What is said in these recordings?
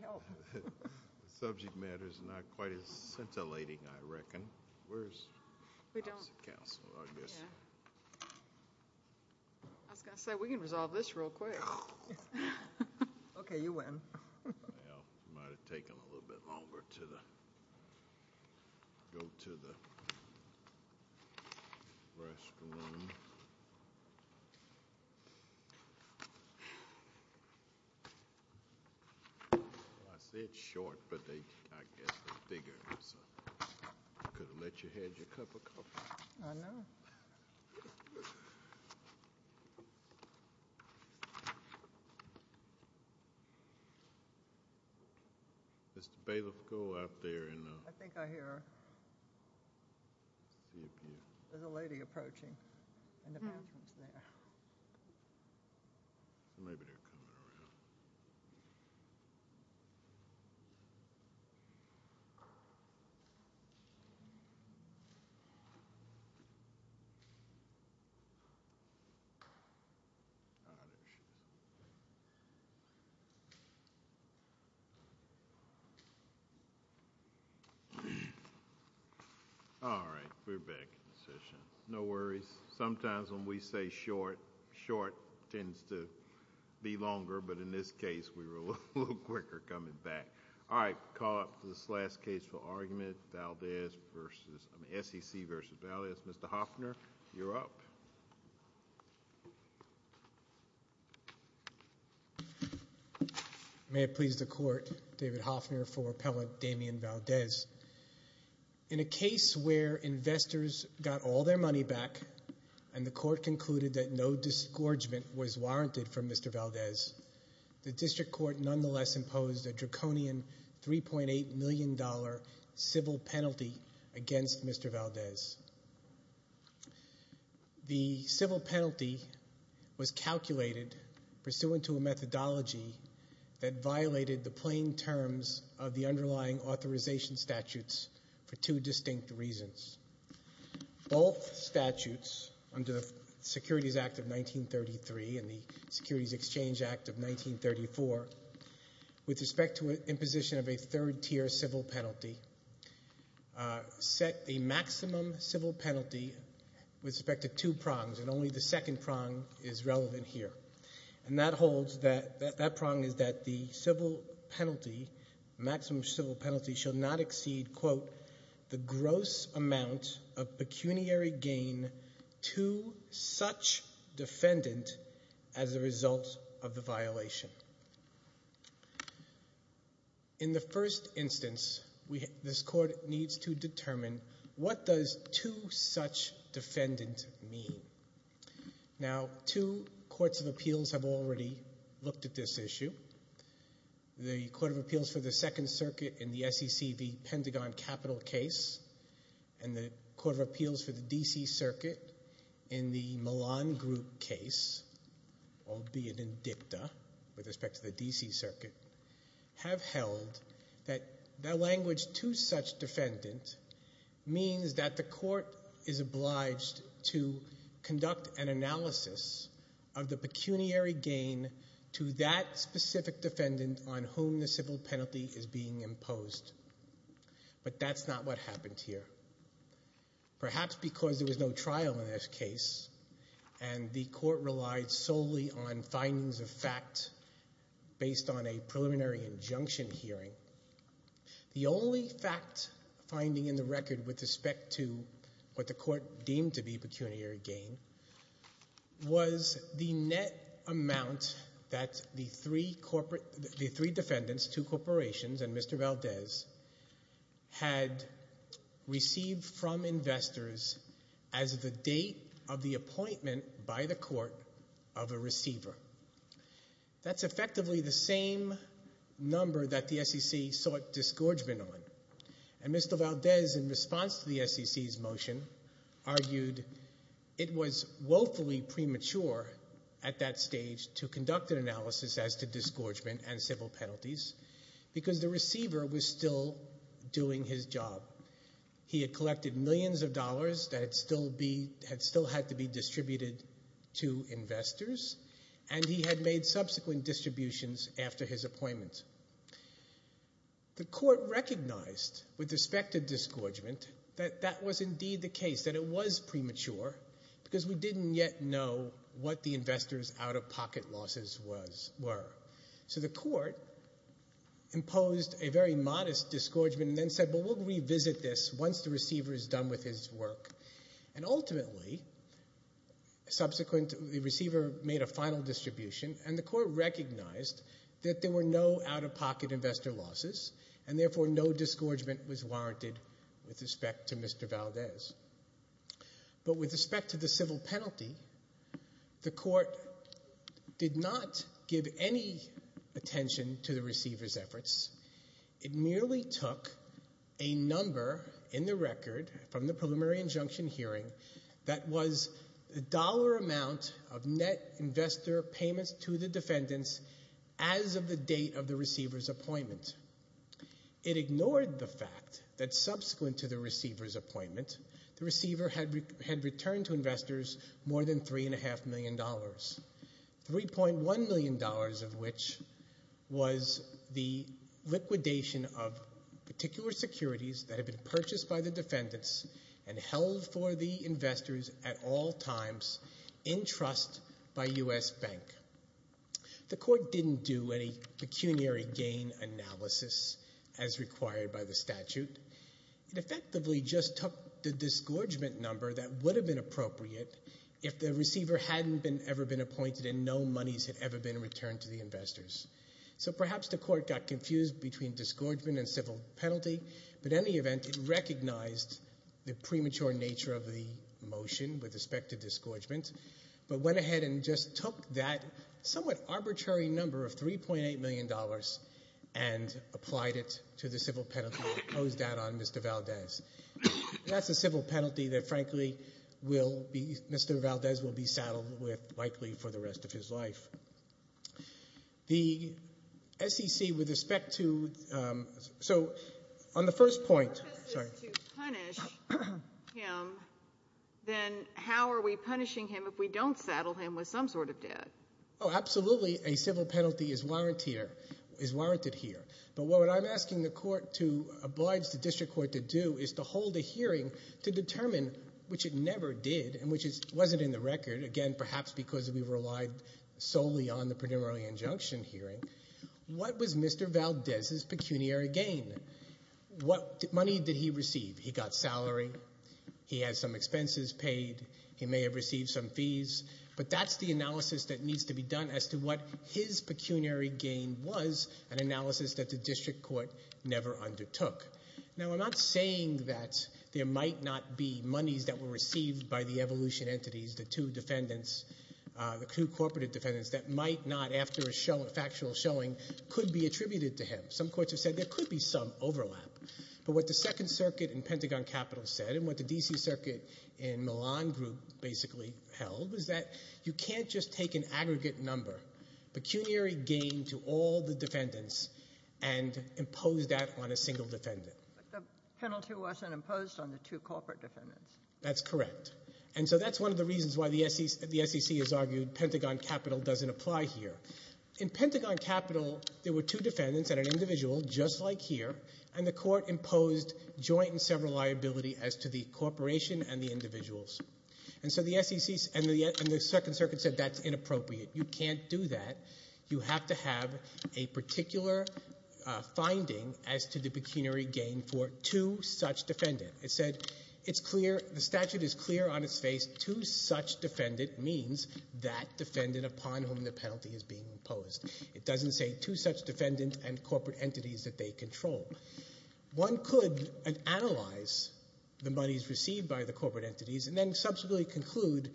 The subject matter is not quite as scintillating, I reckon. I was going to say, we can resolve this real quick. Okay, you win. Well, it might have taken a little bit longer to go to the restroom. I say it's short, but I guess it's bigger. You could have let your head your cup of coffee. I know. Mr. Bailiff, go up there. I think I hear a lady approaching in the bathrooms there. Maybe they're coming around. All right, we're back in session. No worries. Sometimes when we say short, short tends to be longer. But in this case, we were a little quicker coming back. All right, call up this last case for argument, SEC v. Valdez. Mr. Hoffner, you're up. May it please the Court, David Hoffner for Appellant Damian Valdez. In a case where investors got all their money back and the Court concluded that no disgorgement was warranted for Mr. Valdez, the District Court nonetheless imposed a draconian $3.8 million civil penalty against Mr. Valdez. The civil penalty was calculated pursuant to a methodology that violated the plain terms of the underlying authorization statutes for two distinct reasons. Both statutes, under the Securities Act of 1933 and the Securities Exchange Act of 1934, with respect to imposition of a third-tier civil penalty, set a maximum civil penalty with respect to two prongs, and only the second prong is relevant here. That prong is that the maximum civil penalty shall not exceed the gross amount of pecuniary gain to such defendant as a result of the violation. In the first instance, this Court needs to determine what does to such defendant mean? Now, two courts of appeals have already looked at this issue. The Court of Appeals for the Second Circuit in the SEC v. Pentagon Capital case and the Court of Appeals for the D.C. Circuit in the Milan Group case, albeit in dicta with respect to the D.C. Circuit, have held that the language to such defendant means that the Court is obliged to conduct an analysis of the pecuniary gain to that specific defendant on whom the civil penalty is being imposed. But that's not what happened here. Perhaps because there was no trial in this case and the Court relied solely on findings of fact based on a preliminary injunction hearing, the only fact finding in the record with respect to what the Court deemed to be pecuniary gain was the net amount that the three defendants, two corporations, and Mr. Valdez had received from investors as the date of the appointment by the Court of a receiver. That's effectively the same number that the SEC sought disgorgement on. And Mr. Valdez, in response to the SEC's motion, argued it was woefully premature at that stage to conduct an analysis as to disgorgement and civil penalties because the receiver was still doing his job. He had collected millions of dollars that still had to be distributed to investors and he had made subsequent distributions after his appointment. The Court recognized with respect to disgorgement that that was indeed the case, that it was premature because we didn't yet know what the investors' out-of-pocket losses were. So the Court imposed a very modest disgorgement and then said, well, we'll revisit this once the receiver is done with his work. And ultimately, subsequently, the receiver made a final distribution and the Court recognized that there were no out-of-pocket investor losses and therefore no disgorgement was warranted with respect to Mr. Valdez. But with respect to the civil penalty, the Court did not give any attention to the receiver's efforts. It merely took a number in the record from the preliminary injunction hearing that was the dollar amount of net investor payments to the defendants as of the date of the receiver's appointment. It ignored the fact that subsequent to the receiver's appointment, the receiver had returned to investors more than $3.5 million, $3.1 million of which was the liquidation of particular securities that had been purchased by the defendants and held for the investors at all times in trust by U.S. Bank. The Court didn't do any pecuniary gain analysis as required by the statute. It effectively just took the disgorgement number that would have been appropriate if the receiver hadn't ever been appointed and no monies had ever been returned to the investors. So perhaps the Court got confused between disgorgement and civil penalty, but in any event it recognized the premature nature of the motion with respect to disgorgement but went ahead and just took that somewhat arbitrary number of $3.8 million and applied it to the civil penalty and imposed that on Mr. Valdez. That's a civil penalty that, frankly, Mr. Valdez will be saddled with likely for the rest of his life. The SEC with respect toóso on the first pointó If the purpose is to punish him, then how are we punishing him if we don't saddle him with some sort of debt? Oh, absolutely a civil penalty is warranted here, but what I'm asking the Court to oblige the District Court to do is to hold a hearing to determine, which it never did and which wasn't in the record, again, perhaps because we relied solely on the preliminary injunction hearing, what was Mr. Valdez's pecuniary gain? What money did he receive? He got salary, he had some expenses paid, he may have received some fees, but that's the analysis that needs to be done as to what his pecuniary gain was, an analysis that the District Court never undertook. Now, I'm not saying that there might not be monies that were received by the evolution entities, the two defendants, the two corporative defendants, that might not, after a factual showing, could be attributed to him. Some courts have said there could be some overlap, but what the Second Circuit in Pentagon Capital said and what the D.C. Circuit in Milan Group basically held was that you can't just take an aggregate number, pecuniary gain to all the defendants, and impose that on a single defendant. But the penalty wasn't imposed on the two corporate defendants. That's correct. And so that's one of the reasons why the SEC has argued Pentagon Capital doesn't apply here. In Pentagon Capital, there were two defendants and an individual, just like here, and the court imposed joint and several liability as to the corporation and the individuals. And so the SEC and the Second Circuit said that's inappropriate. You can't do that. You have to have a particular finding as to the pecuniary gain for two such defendants. It said it's clear, the statute is clear on its face, two such defendants means that defendant upon whom the penalty is being imposed. It doesn't say two such defendants and corporate entities that they control. One could analyze the monies received by the corporate entities and then subsequently conclude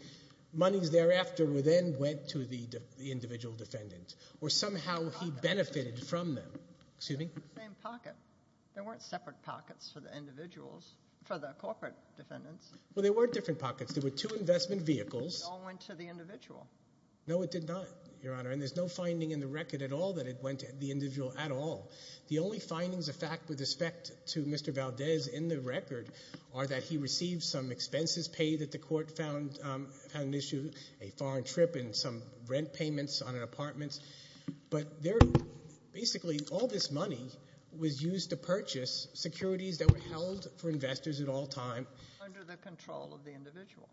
monies thereafter then went to the individual defendant or somehow he benefited from them. It's the same pocket. There weren't separate pockets for the individuals, for the corporate defendants. Well, there were different pockets. There were two investment vehicles. It all went to the individual. No, it did not, Your Honor, and there's no finding in the record at all that it went to the individual at all. The only findings of fact with respect to Mr. Valdez in the record are that he received some expenses paid that the court found an issue, a foreign trip and some rent payments on an apartment. But basically all this money was used to purchase securities that were held for investors at all times. Under the control of the individual.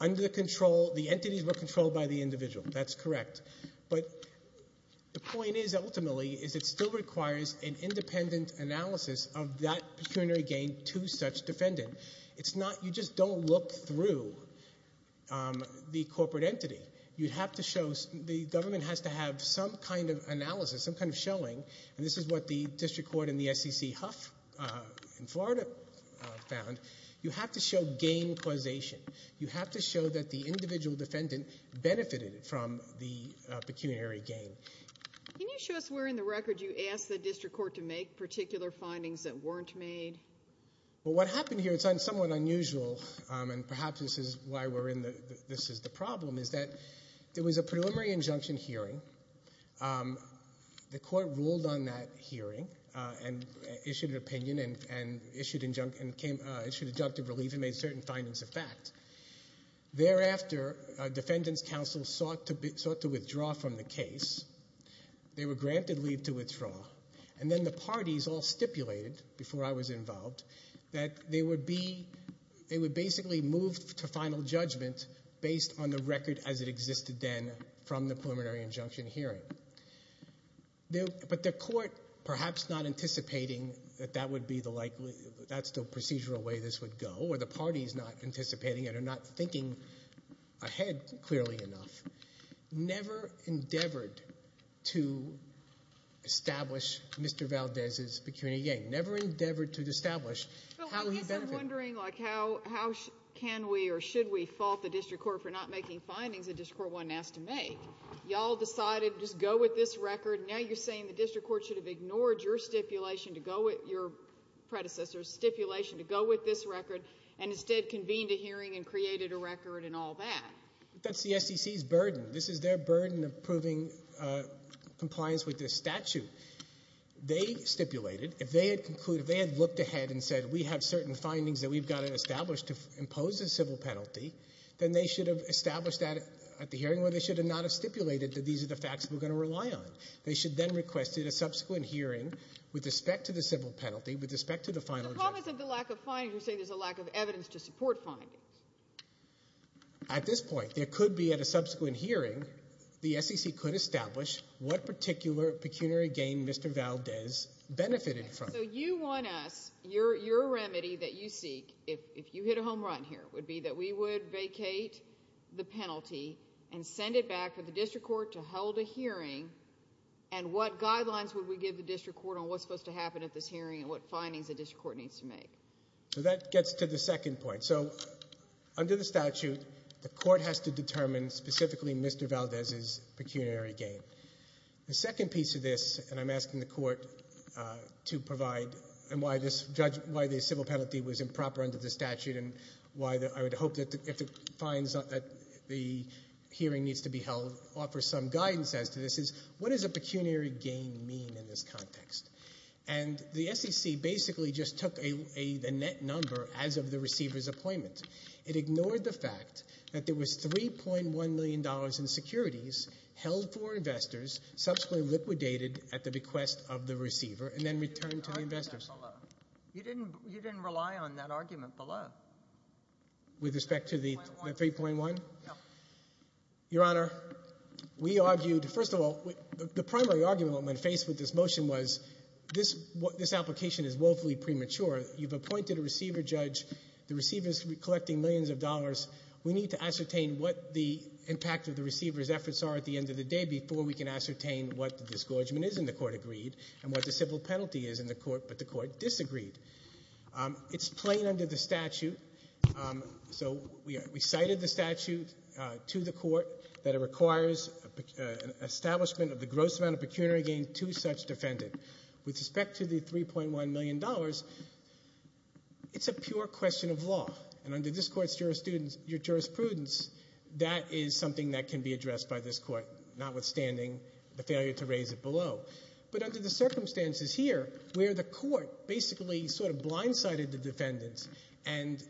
Under the control, the entities were controlled by the individual. That's correct. But the point is ultimately is it still requires an independent analysis of that pecuniary gain to such defendant. It's not, you just don't look through the corporate entity. You'd have to show, the government has to have some kind of analysis, some kind of showing, and this is what the district court in the SEC Huff in Florida found. You have to show gain causation. You have to show that the individual defendant benefited from the pecuniary gain. Can you show us where in the record you asked the district court to make particular findings that weren't made? Well, what happened here, it's somewhat unusual, and perhaps this is why we're in the, this is the problem, is that there was a preliminary injunction hearing. The court ruled on that hearing and issued an opinion and issued injunctive relief and made certain findings of fact. Thereafter, defendants counsel sought to withdraw from the case. They were granted leave to withdraw. And then the parties all stipulated, before I was involved, that they would be, they would basically move to final judgment based on the record as it existed then from the preliminary injunction hearing. But the court, perhaps not anticipating that that would be the likely, that's the procedural way this would go, or the parties not anticipating it or not thinking ahead clearly enough, never endeavored to establish Mr. Valdez's pecuniary gain, never endeavored to establish how he benefited. Well, I guess I'm wondering, like, how can we or should we fault the district court for not making findings the district court wasn't asked to make? Y'all decided just go with this record. And instead convened a hearing and created a record and all that. That's the SEC's burden. This is their burden of proving compliance with this statute. They stipulated, if they had concluded, if they had looked ahead and said, we have certain findings that we've got to establish to impose a civil penalty, then they should have established that at the hearing, or they should have not have stipulated that these are the facts we're going to rely on. They should then have requested a subsequent hearing with respect to the civil penalty, with respect to the final judgment. The problem isn't the lack of findings. You're saying there's a lack of evidence to support findings. At this point, there could be at a subsequent hearing, the SEC could establish what particular pecuniary gain Mr. Valdez benefited from. So you want us, your remedy that you seek, if you hit a home run here, would be that we would vacate the penalty and send it back for the district court to hold a hearing, and what guidelines would we give the district court on what's supposed to happen at this hearing and what findings the district court needs to make? So that gets to the second point. So under the statute, the court has to determine specifically Mr. Valdez's pecuniary gain. The second piece of this, and I'm asking the court to provide, and why this civil penalty was improper under the statute, and why I would hope that if it finds that the hearing needs to be held, offer some guidance as to this, is what does a pecuniary gain mean in this context? And the SEC basically just took a net number as of the receiver's appointment. It ignored the fact that there was $3.1 million in securities held for investors, subsequently liquidated at the request of the receiver, and then returned to the investors. You didn't rely on that argument below. With respect to the 3.1? Yeah. Your Honor, we argued, first of all, the primary argument I'm going to face with this motion was, this application is woefully premature. You've appointed a receiver judge. The receiver is collecting millions of dollars. We need to ascertain what the impact of the receiver's efforts are at the end of the day before we can ascertain what the disgorgement is in the court agreed and what the civil penalty is in the court that the court disagreed. It's plain under the statute. So we cited the statute to the court that it requires an establishment of the gross amount of pecuniary gain to such defendant. With respect to the $3.1 million, it's a pure question of law. And under this court's jurisprudence, that is something that can be addressed by this court, notwithstanding the failure to raise it below. But under the circumstances here, where the court basically sort of blindsided the defendants and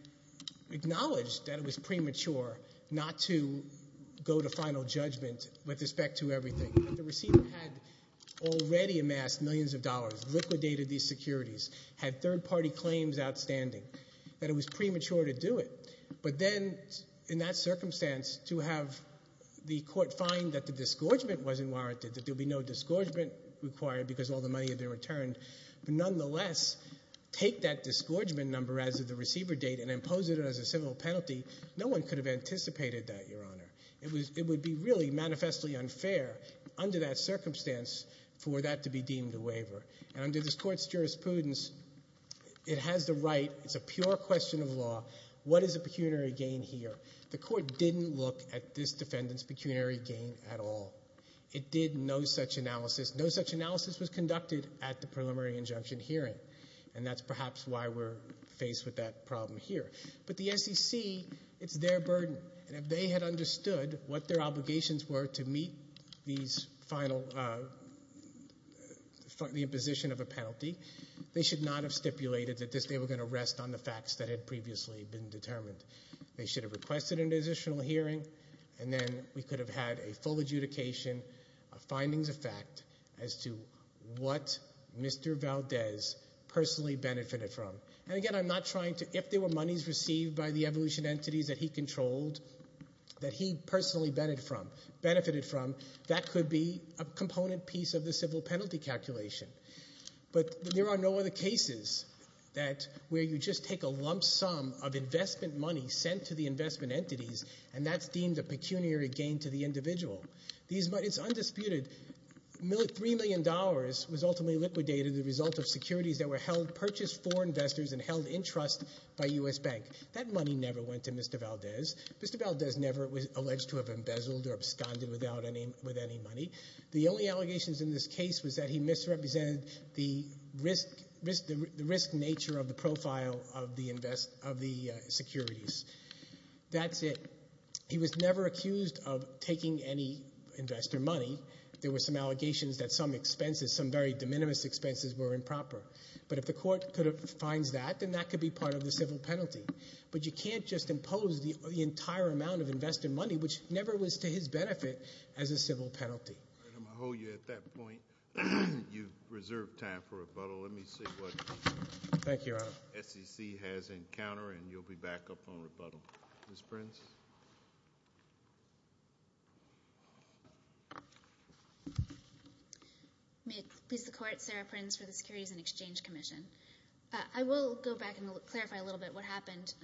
acknowledged that it was premature not to go to final judgment with respect to everything. The receiver had already amassed millions of dollars, liquidated these securities, had third-party claims outstanding, that it was premature to do it. But then, in that circumstance, to have the court find that the disgorgement wasn't warranted, that there would be no disgorgement required because all the money had been returned, but nonetheless, take that disgorgement number as the receiver date and impose it as a civil penalty, no one could have anticipated that, Your Honor. It would be really manifestly unfair under that circumstance for that to be deemed a waiver. And under this court's jurisprudence, it has the right, it's a pure question of law, what is the pecuniary gain here? The court didn't look at this defendant's pecuniary gain at all. It did no such analysis. The analysis was conducted at the preliminary injunction hearing, and that's perhaps why we're faced with that problem here. But the SEC, it's their burden. And if they had understood what their obligations were to meet these final, the imposition of a penalty, they should not have stipulated that they were going to rest on the facts that had previously been determined. They should have requested an additional hearing, and then we could have had a full adjudication of findings of fact as to what Mr. Valdez personally benefited from. And again, I'm not trying to, if there were monies received by the evolution entities that he controlled, that he personally benefited from, that could be a component piece of the civil penalty calculation. But there are no other cases where you just take a lump sum of investment money sent to the investment entities and that's deemed a pecuniary gain to the individual. It's undisputed, $3 million was ultimately liquidated as a result of securities that were held, purchased for investors and held in trust by U.S. Bank. That money never went to Mr. Valdez. Mr. Valdez never was alleged to have embezzled or absconded with any money. The only allegations in this case was that he misrepresented the risk nature of the profile of the securities. That's it. He was never accused of taking any investor money. There were some allegations that some expenses, some very de minimis expenses, were improper. But if the court finds that, then that could be part of the civil penalty. But you can't just impose the entire amount of investor money, which never was to his benefit, as a civil penalty. All right, I'm going to hold you at that point. You've reserved time for rebuttal. Let me see what SEC has in counter, and you'll be back up on rebuttal. Ms. Prince? May it please the Court, Sarah Prince for the Securities and Exchange Commission. I will go back and clarify a little bit what happened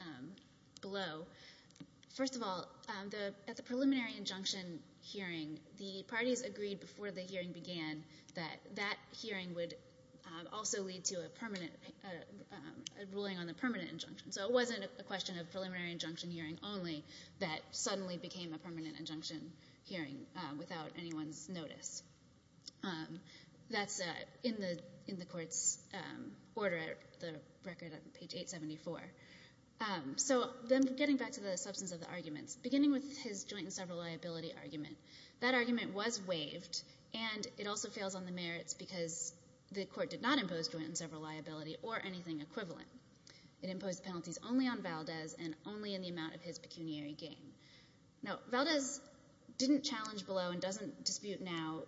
below. First of all, at the preliminary injunction hearing, the parties agreed before the hearing began that that hearing would also lead to a ruling on the permanent injunction. So it wasn't a question of preliminary injunction hearing only that suddenly became a permanent injunction hearing without anyone's notice. That's in the Court's order, the record on page 874. So then getting back to the substance of the arguments, beginning with his joint and several liability argument, that argument was waived, and it also fails on the merits because the court did not impose joint and several liability or anything equivalent. It imposed penalties only on Valdez and only in the amount of his pecuniary gain. Now, Valdez didn't challenge below and doesn't dispute now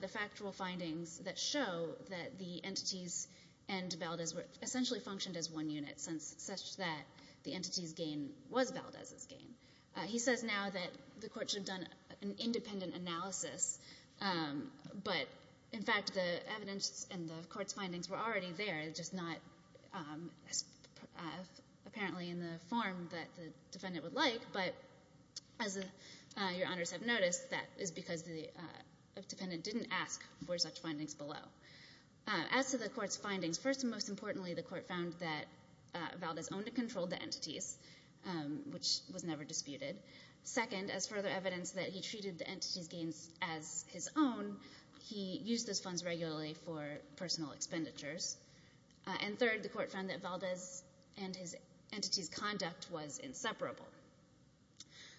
the factual findings that show that the entities and Valdez were essentially functioned as one unit, such that the entity's gain was Valdez's gain. He says now that the Court should have done an independent analysis, but, in fact, the evidence and the Court's findings were already there, just not apparently in the form that the defendant would like. But as Your Honors have noticed, that is because the defendant didn't ask for such findings below. As to the Court's findings, first and most importantly, the Court found that Valdez only controlled the entities, which was never disputed. Second, as further evidence that he treated the entities' gains as his own, he used those funds regularly for personal expenditures. And third, the Court found that Valdez and his entities' conduct was inseparable.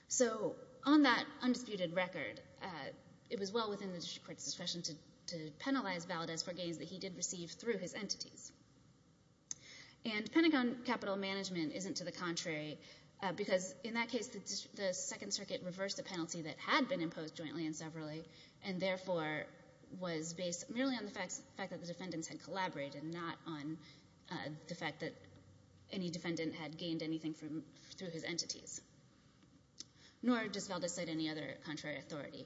So on that undisputed record, it was well within the District Court's discretion to penalize Valdez for gains that he did receive through his entities. And Pentagon capital management isn't to the contrary because, in that case, the Second Circuit reversed a penalty that had been imposed jointly and severally and, therefore, was based merely on the fact that the defendants had collaborated, not on the fact that any defendant had gained anything through his entities. Nor does Valdez cite any other contrary authority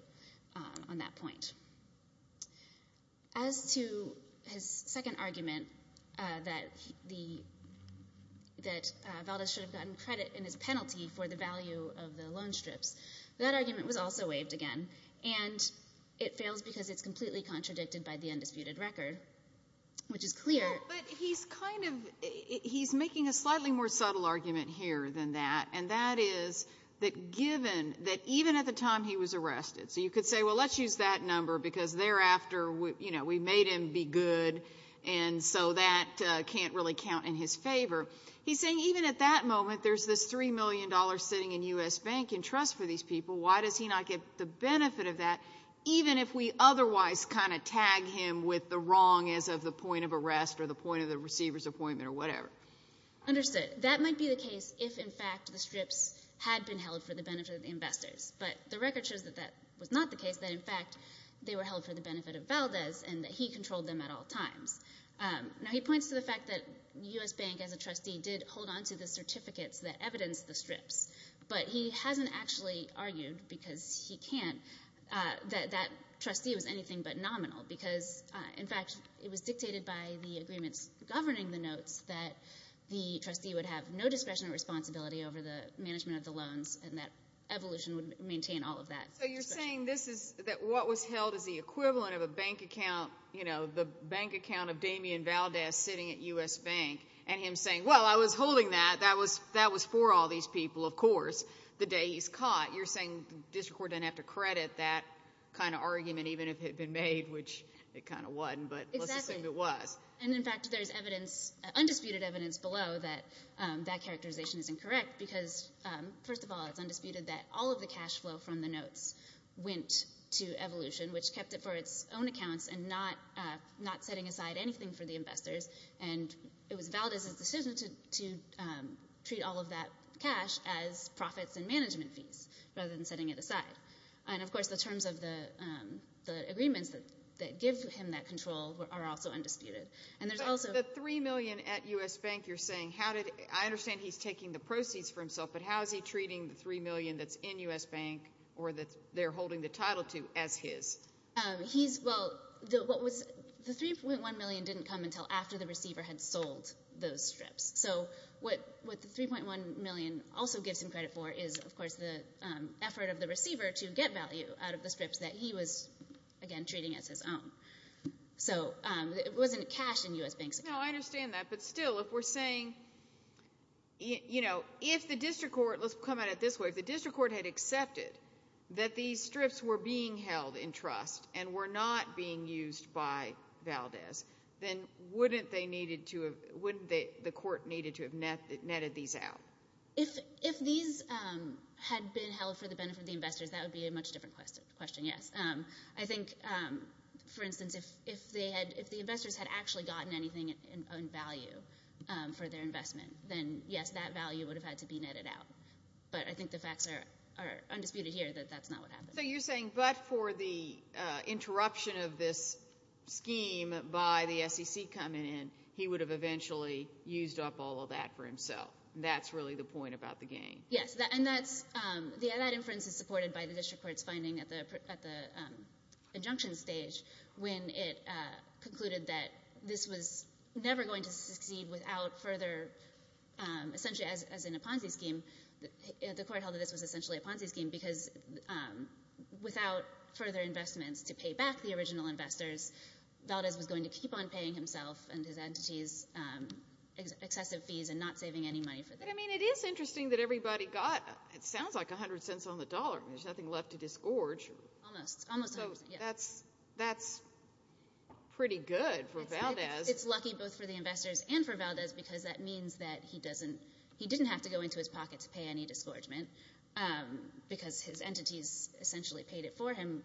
on that point. As to his second argument, that Valdez should have gotten credit in his penalty for the value of the loan strips, that argument was also waived again, and it fails because it's completely contradicted by the undisputed record, which is clear. But he's kind of, he's making a slightly more subtle argument here than that, and that is that given that even at the time he was arrested, so you could say, well, let's use that number because thereafter, you know, we made him be good, and so that can't really count in his favor. He's saying even at that moment, there's this $3 million sitting in U.S. Bank and Trust for these people. Why does he not get the benefit of that, even if we otherwise kind of tag him with the wrong as of the point of arrest or the point of the receiver's appointment or whatever? Understood. That might be the case if, in fact, the strips had been held for the benefit of the investors. But the record shows that that was not the case, that, in fact, they were held for the benefit of Valdez and that he controlled them at all times. Now, he points to the fact that U.S. Bank, as a trustee, did hold on to the certificates that evidenced the strips, but he hasn't actually argued, because he can't, that that trustee was anything but nominal because, in fact, it was dictated by the agreements governing the notes that the trustee would have no discretion or responsibility over the management of the loans and that Evolution would maintain all of that. So you're saying this is that what was held is the equivalent of a bank account, you know, the bank account of Damien Valdez sitting at U.S. Bank and him saying, well, I was holding that. That was for all these people, of course, the day he's caught. You're saying the district court doesn't have to credit that kind of argument, even if it had been made, which it kind of wasn't. But let's assume it was. Exactly. And, in fact, there's evidence, undisputed evidence below that that characterization is incorrect because, first of all, it's undisputed that all of the cash flow from the notes went to Evolution, which kept it for its own accounts and not setting aside anything for the investors. And it was Valdez's decision to treat all of that cash as profits and management fees rather than setting it aside. And, of course, the terms of the agreements that give him that control are also undisputed. But the $3 million at U.S. Bank you're saying, I understand he's taking the proceeds for himself, but how is he treating the $3 million that's in U.S. Bank or that they're holding the title to as his? Well, the $3.1 million didn't come until after the receiver had sold those strips. So what the $3.1 million also gives him credit for is, of course, the effort of the receiver to get value out of the strips that he was, again, treating as his own. So it wasn't cash in U.S. Bank. No, I understand that. But still, if we're saying, you know, if the district court, let's come at it this way, if the district court had accepted that these strips were being held in trust and were not being used by Valdez, then wouldn't the court need to have netted these out? If these had been held for the benefit of the investors, that would be a much different question, yes. I think, for instance, if the investors had actually gotten anything in value for their investment, then, yes, that value would have had to be netted out. But I think the facts are undisputed here that that's not what happened. So you're saying but for the interruption of this scheme by the SEC coming in, he would have eventually used up all of that for himself. That's really the point about the gain. Yes, and that inference is supported by the district court's finding at the injunction stage when it concluded that this was never going to succeed without further, essentially as in a Ponzi scheme, the court held that this was essentially a Ponzi scheme because without further investments to pay back the original investors, Valdez was going to keep on paying himself and his entities excessive fees and not saving any money for them. But, I mean, it is interesting that everybody got, it sounds like, 100 cents on the dollar. There's nothing left to disgorge. Almost, almost. So that's pretty good for Valdez. It's lucky both for the investors and for Valdez because that means that he doesn't, he didn't have to go into his pocket to pay any disgorgement because his entities essentially paid it for him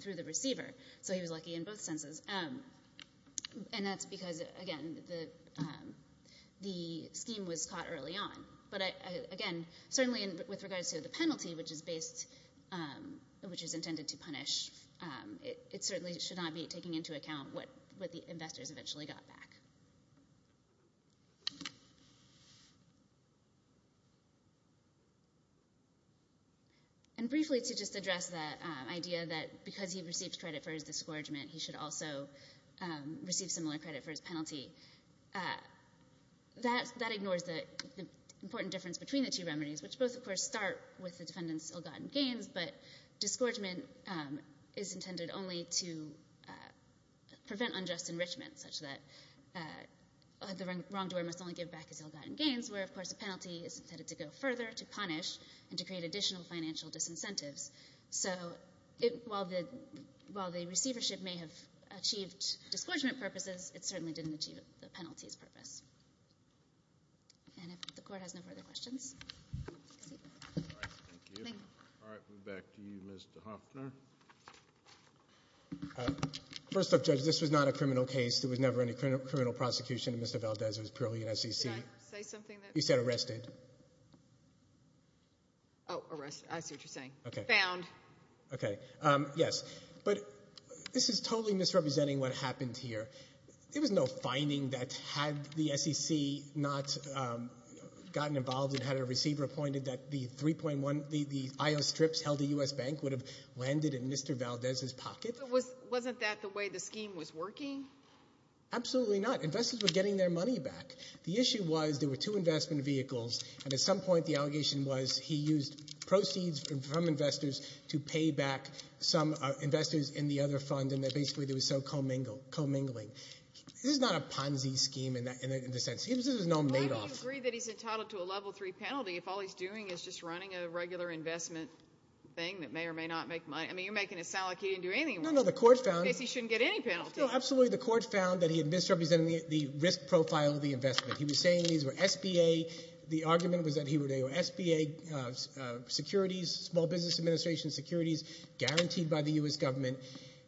through the receiver. So he was lucky in both senses. And that's because, again, the scheme was caught early on. But, again, certainly with regards to the penalty, which is based, which is intended to punish, it certainly should not be taking into account what the investors eventually got back. And briefly to just address the idea that because he received credit for his disgorgement, he should also receive similar credit for his penalty. That ignores the important difference between the two remedies, which both, of course, start with the defendant's ill-gotten gains. But disgorgement is intended only to prevent unjust enrichment, such that the wrongdoer must only give back his ill-gotten gains, where, of course, the penalty is intended to go further, to punish, and to create additional financial disincentives. So while the receivership may have achieved disgorgement purposes, it certainly didn't achieve the penalty's purpose. And if the Court has no further questions. Thank you. All right. We're back to you, Ms. DeHoffner. First off, Judge, this was not a criminal case. There was never any criminal prosecution of Mr. Valdez. It was purely an SEC. Did I say something? You said arrested. Oh, arrested. I see what you're saying. Found. Okay. Yes. But this is totally misrepresenting what happened here. There was no finding that had the SEC not gotten involved and had a receiver appointed that the 3.1, the I.O. strips held at U.S. Bank, would have landed in Mr. Valdez's pocket. Wasn't that the way the scheme was working? Absolutely not. Investors were getting their money back. The issue was there were two investment vehicles, and at some point the allegation was he used proceeds from investors to pay back some investors in the other fund, and basically it was so commingling. This is not a Ponzi scheme in the sense. This is no Madoff. Why do you agree that he's entitled to a level three penalty if all he's doing is just running a regular investment thing that may or may not make money? I mean, you're making it sound like he didn't do anything wrong. No, no. The Court found he shouldn't get any penalty. No, absolutely. The Court found that he had misrepresented the risk profile of the investment. He was saying these were SBA. The argument was that they were SBA securities, small business administration securities, guaranteed by the U.S. government.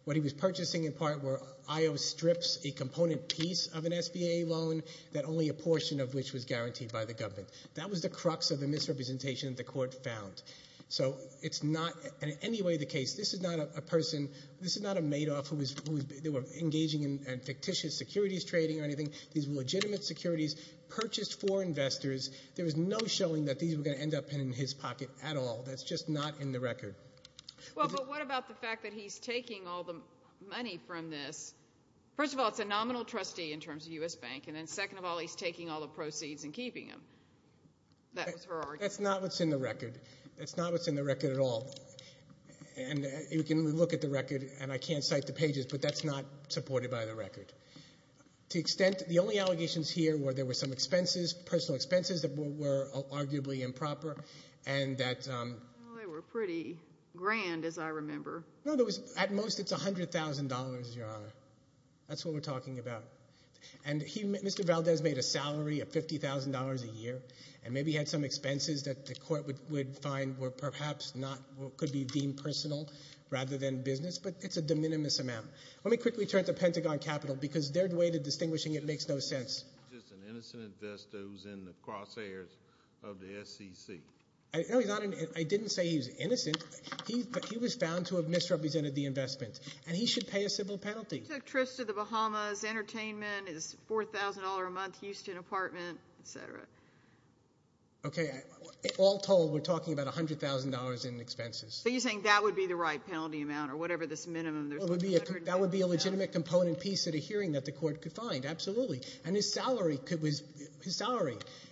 What he was purchasing in part were IO strips, a component piece of an SBA loan that only a portion of which was guaranteed by the government. That was the crux of the misrepresentation that the Court found. So it's not in any way the case. This is not a person. This is not a Madoff who was engaging in fictitious securities trading or anything. These were legitimate securities purchased for investors. There was no showing that these were going to end up in his pocket at all. That's just not in the record. Well, but what about the fact that he's taking all the money from this? First of all, it's a nominal trustee in terms of U.S. Bank, and then second of all, he's taking all the proceeds and keeping them. That was her argument. That's not what's in the record. That's not what's in the record at all. And you can look at the record, and I can't cite the pages, but that's not supported by the record. To the extent that the only allegations here were there were some expenses, personal expenses that were arguably improper and that— Well, they were pretty grand, as I remember. No, at most it's $100,000, Your Honor. That's what we're talking about. And Mr. Valdez made a salary of $50,000 a year and maybe had some expenses that the Court would find were perhaps not or could be deemed personal rather than business, but it's a de minimis amount. Let me quickly turn to Pentagon Capital because their way to distinguishing it makes no sense. He's just an innocent investor who's in the crosshairs of the SEC. No, Your Honor, I didn't say he was innocent. He was found to have misrepresented the investment, and he should pay a simple penalty. He took trips to the Bahamas. Entertainment is $4,000 a month, Houston apartment, et cetera. Okay, all told, we're talking about $100,000 in expenses. So you're saying that would be the right penalty amount or whatever this minimum is. That would be a legitimate component piece of the hearing that the Court could find, absolutely. And his salary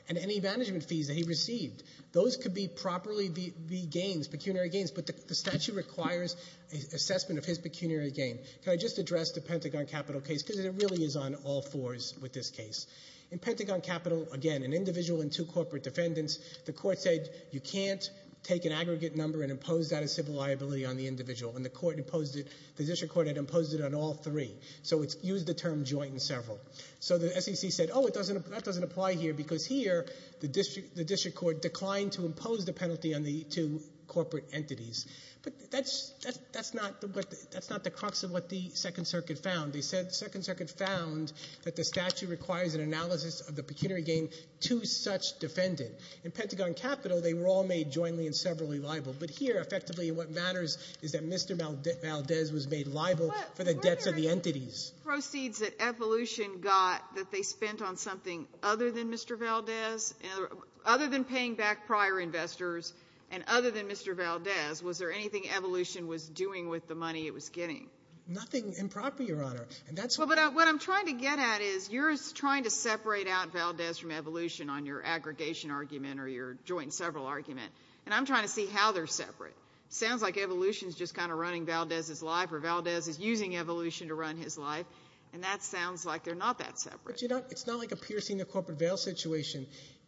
and any management fees that he received, those could properly be gains, pecuniary gains, but the statute requires assessment of his pecuniary gain. Can I just address the Pentagon Capital case? Because it really is on all fours with this case. In Pentagon Capital, again, an individual and two corporate defendants, the Court said you can't take an aggregate number and impose that as civil liability on the individual, and the District Court had imposed it on all three. So it used the term joint and several. So the SEC said, oh, that doesn't apply here, because here the District Court declined to impose the penalty on the two corporate entities. But that's not the crux of what the Second Circuit found. They said the Second Circuit found that the statute requires an analysis of the pecuniary gain to such defendant. In Pentagon Capital, they were all made jointly and severally liable. But here, effectively, what matters is that Mr. Valdez was made liable for the debts of the entities. Were there any proceeds that Evolution got that they spent on something other than Mr. Valdez? Other than paying back prior investors and other than Mr. Valdez, was there anything Evolution was doing with the money it was getting? Nothing improper, Your Honor. Well, but what I'm trying to get at is you're trying to separate out Valdez from Evolution on your aggregation argument or your joint and several argument, and I'm trying to see how they're separate. It sounds like Evolution is just kind of running Valdez's life or Valdez is using Evolution to run his life, and that sounds like they're not that separate. But, you know, it's not like a piercing the corporate veil situation.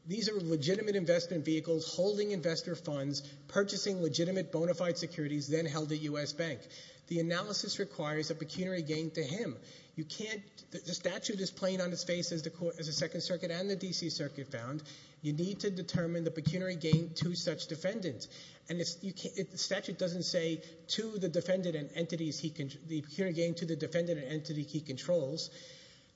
These are legitimate investment vehicles holding investor funds, purchasing legitimate bona fide securities, then held at U.S. Bank. The analysis requires a pecuniary gain to him. You can't – the statute is plain on its face as the Second Circuit and the D.C. Circuit found. You need to determine the pecuniary gain to such defendants. And the statute doesn't say to the defendant and entities he – the pecuniary gain to the defendant and entity he controls.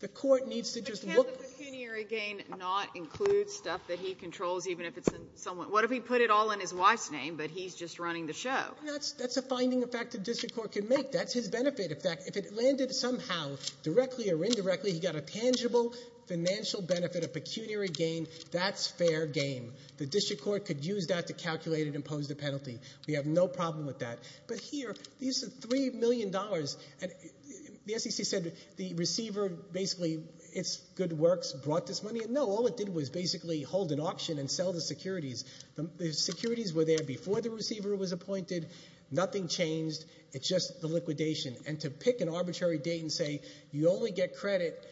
The court needs to just look – But can't the pecuniary gain not include stuff that he controls even if it's in someone – what if he put it all in his wife's name, but he's just running the show? That's a finding, in fact, the district court can make. That's his benefit. In fact, if it landed somehow, directly or indirectly, he got a tangible financial benefit, a pecuniary gain, that's fair game. The district court could use that to calculate and impose the penalty. We have no problem with that. But here, these are $3 million. And the SEC said the receiver basically, it's good works, brought this money in. No, all it did was basically hold an auction and sell the securities. The securities were there before the receiver was appointed. Nothing changed. It's just the liquidation. And to pick an arbitrary date and say you only get credit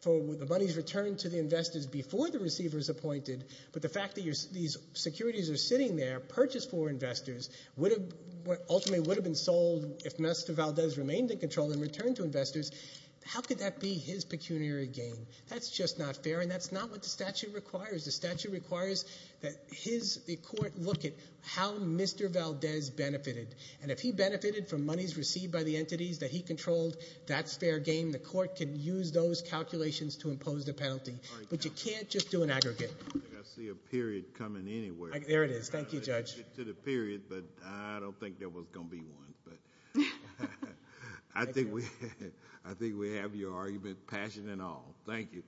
for the money's return to the investors before the receiver is appointed, but the fact that these securities are sitting there, purchased for investors, ultimately would have been sold if Mr. Valdez remained in control and returned to investors, how could that be his pecuniary gain? That's just not fair, and that's not what the statute requires. The statute requires that the court look at how Mr. Valdez benefited. And if he benefited from monies received by the entities that he controlled, that's fair game. The court can use those calculations to impose the penalty. But you can't just do an aggregate. I see a period coming anywhere. There it is. Thank you, Judge. To the period, but I don't think there was going to be one. I think we have your argument, passion and all. Thank you.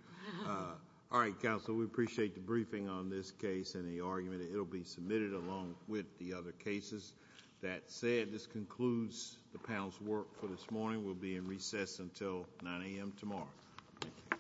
All right, counsel, we appreciate the briefing on this case and the argument. It will be submitted along with the other cases. That said, this concludes the panel's work for this morning. We'll be in recess until 9 a.m. tomorrow. Thank you.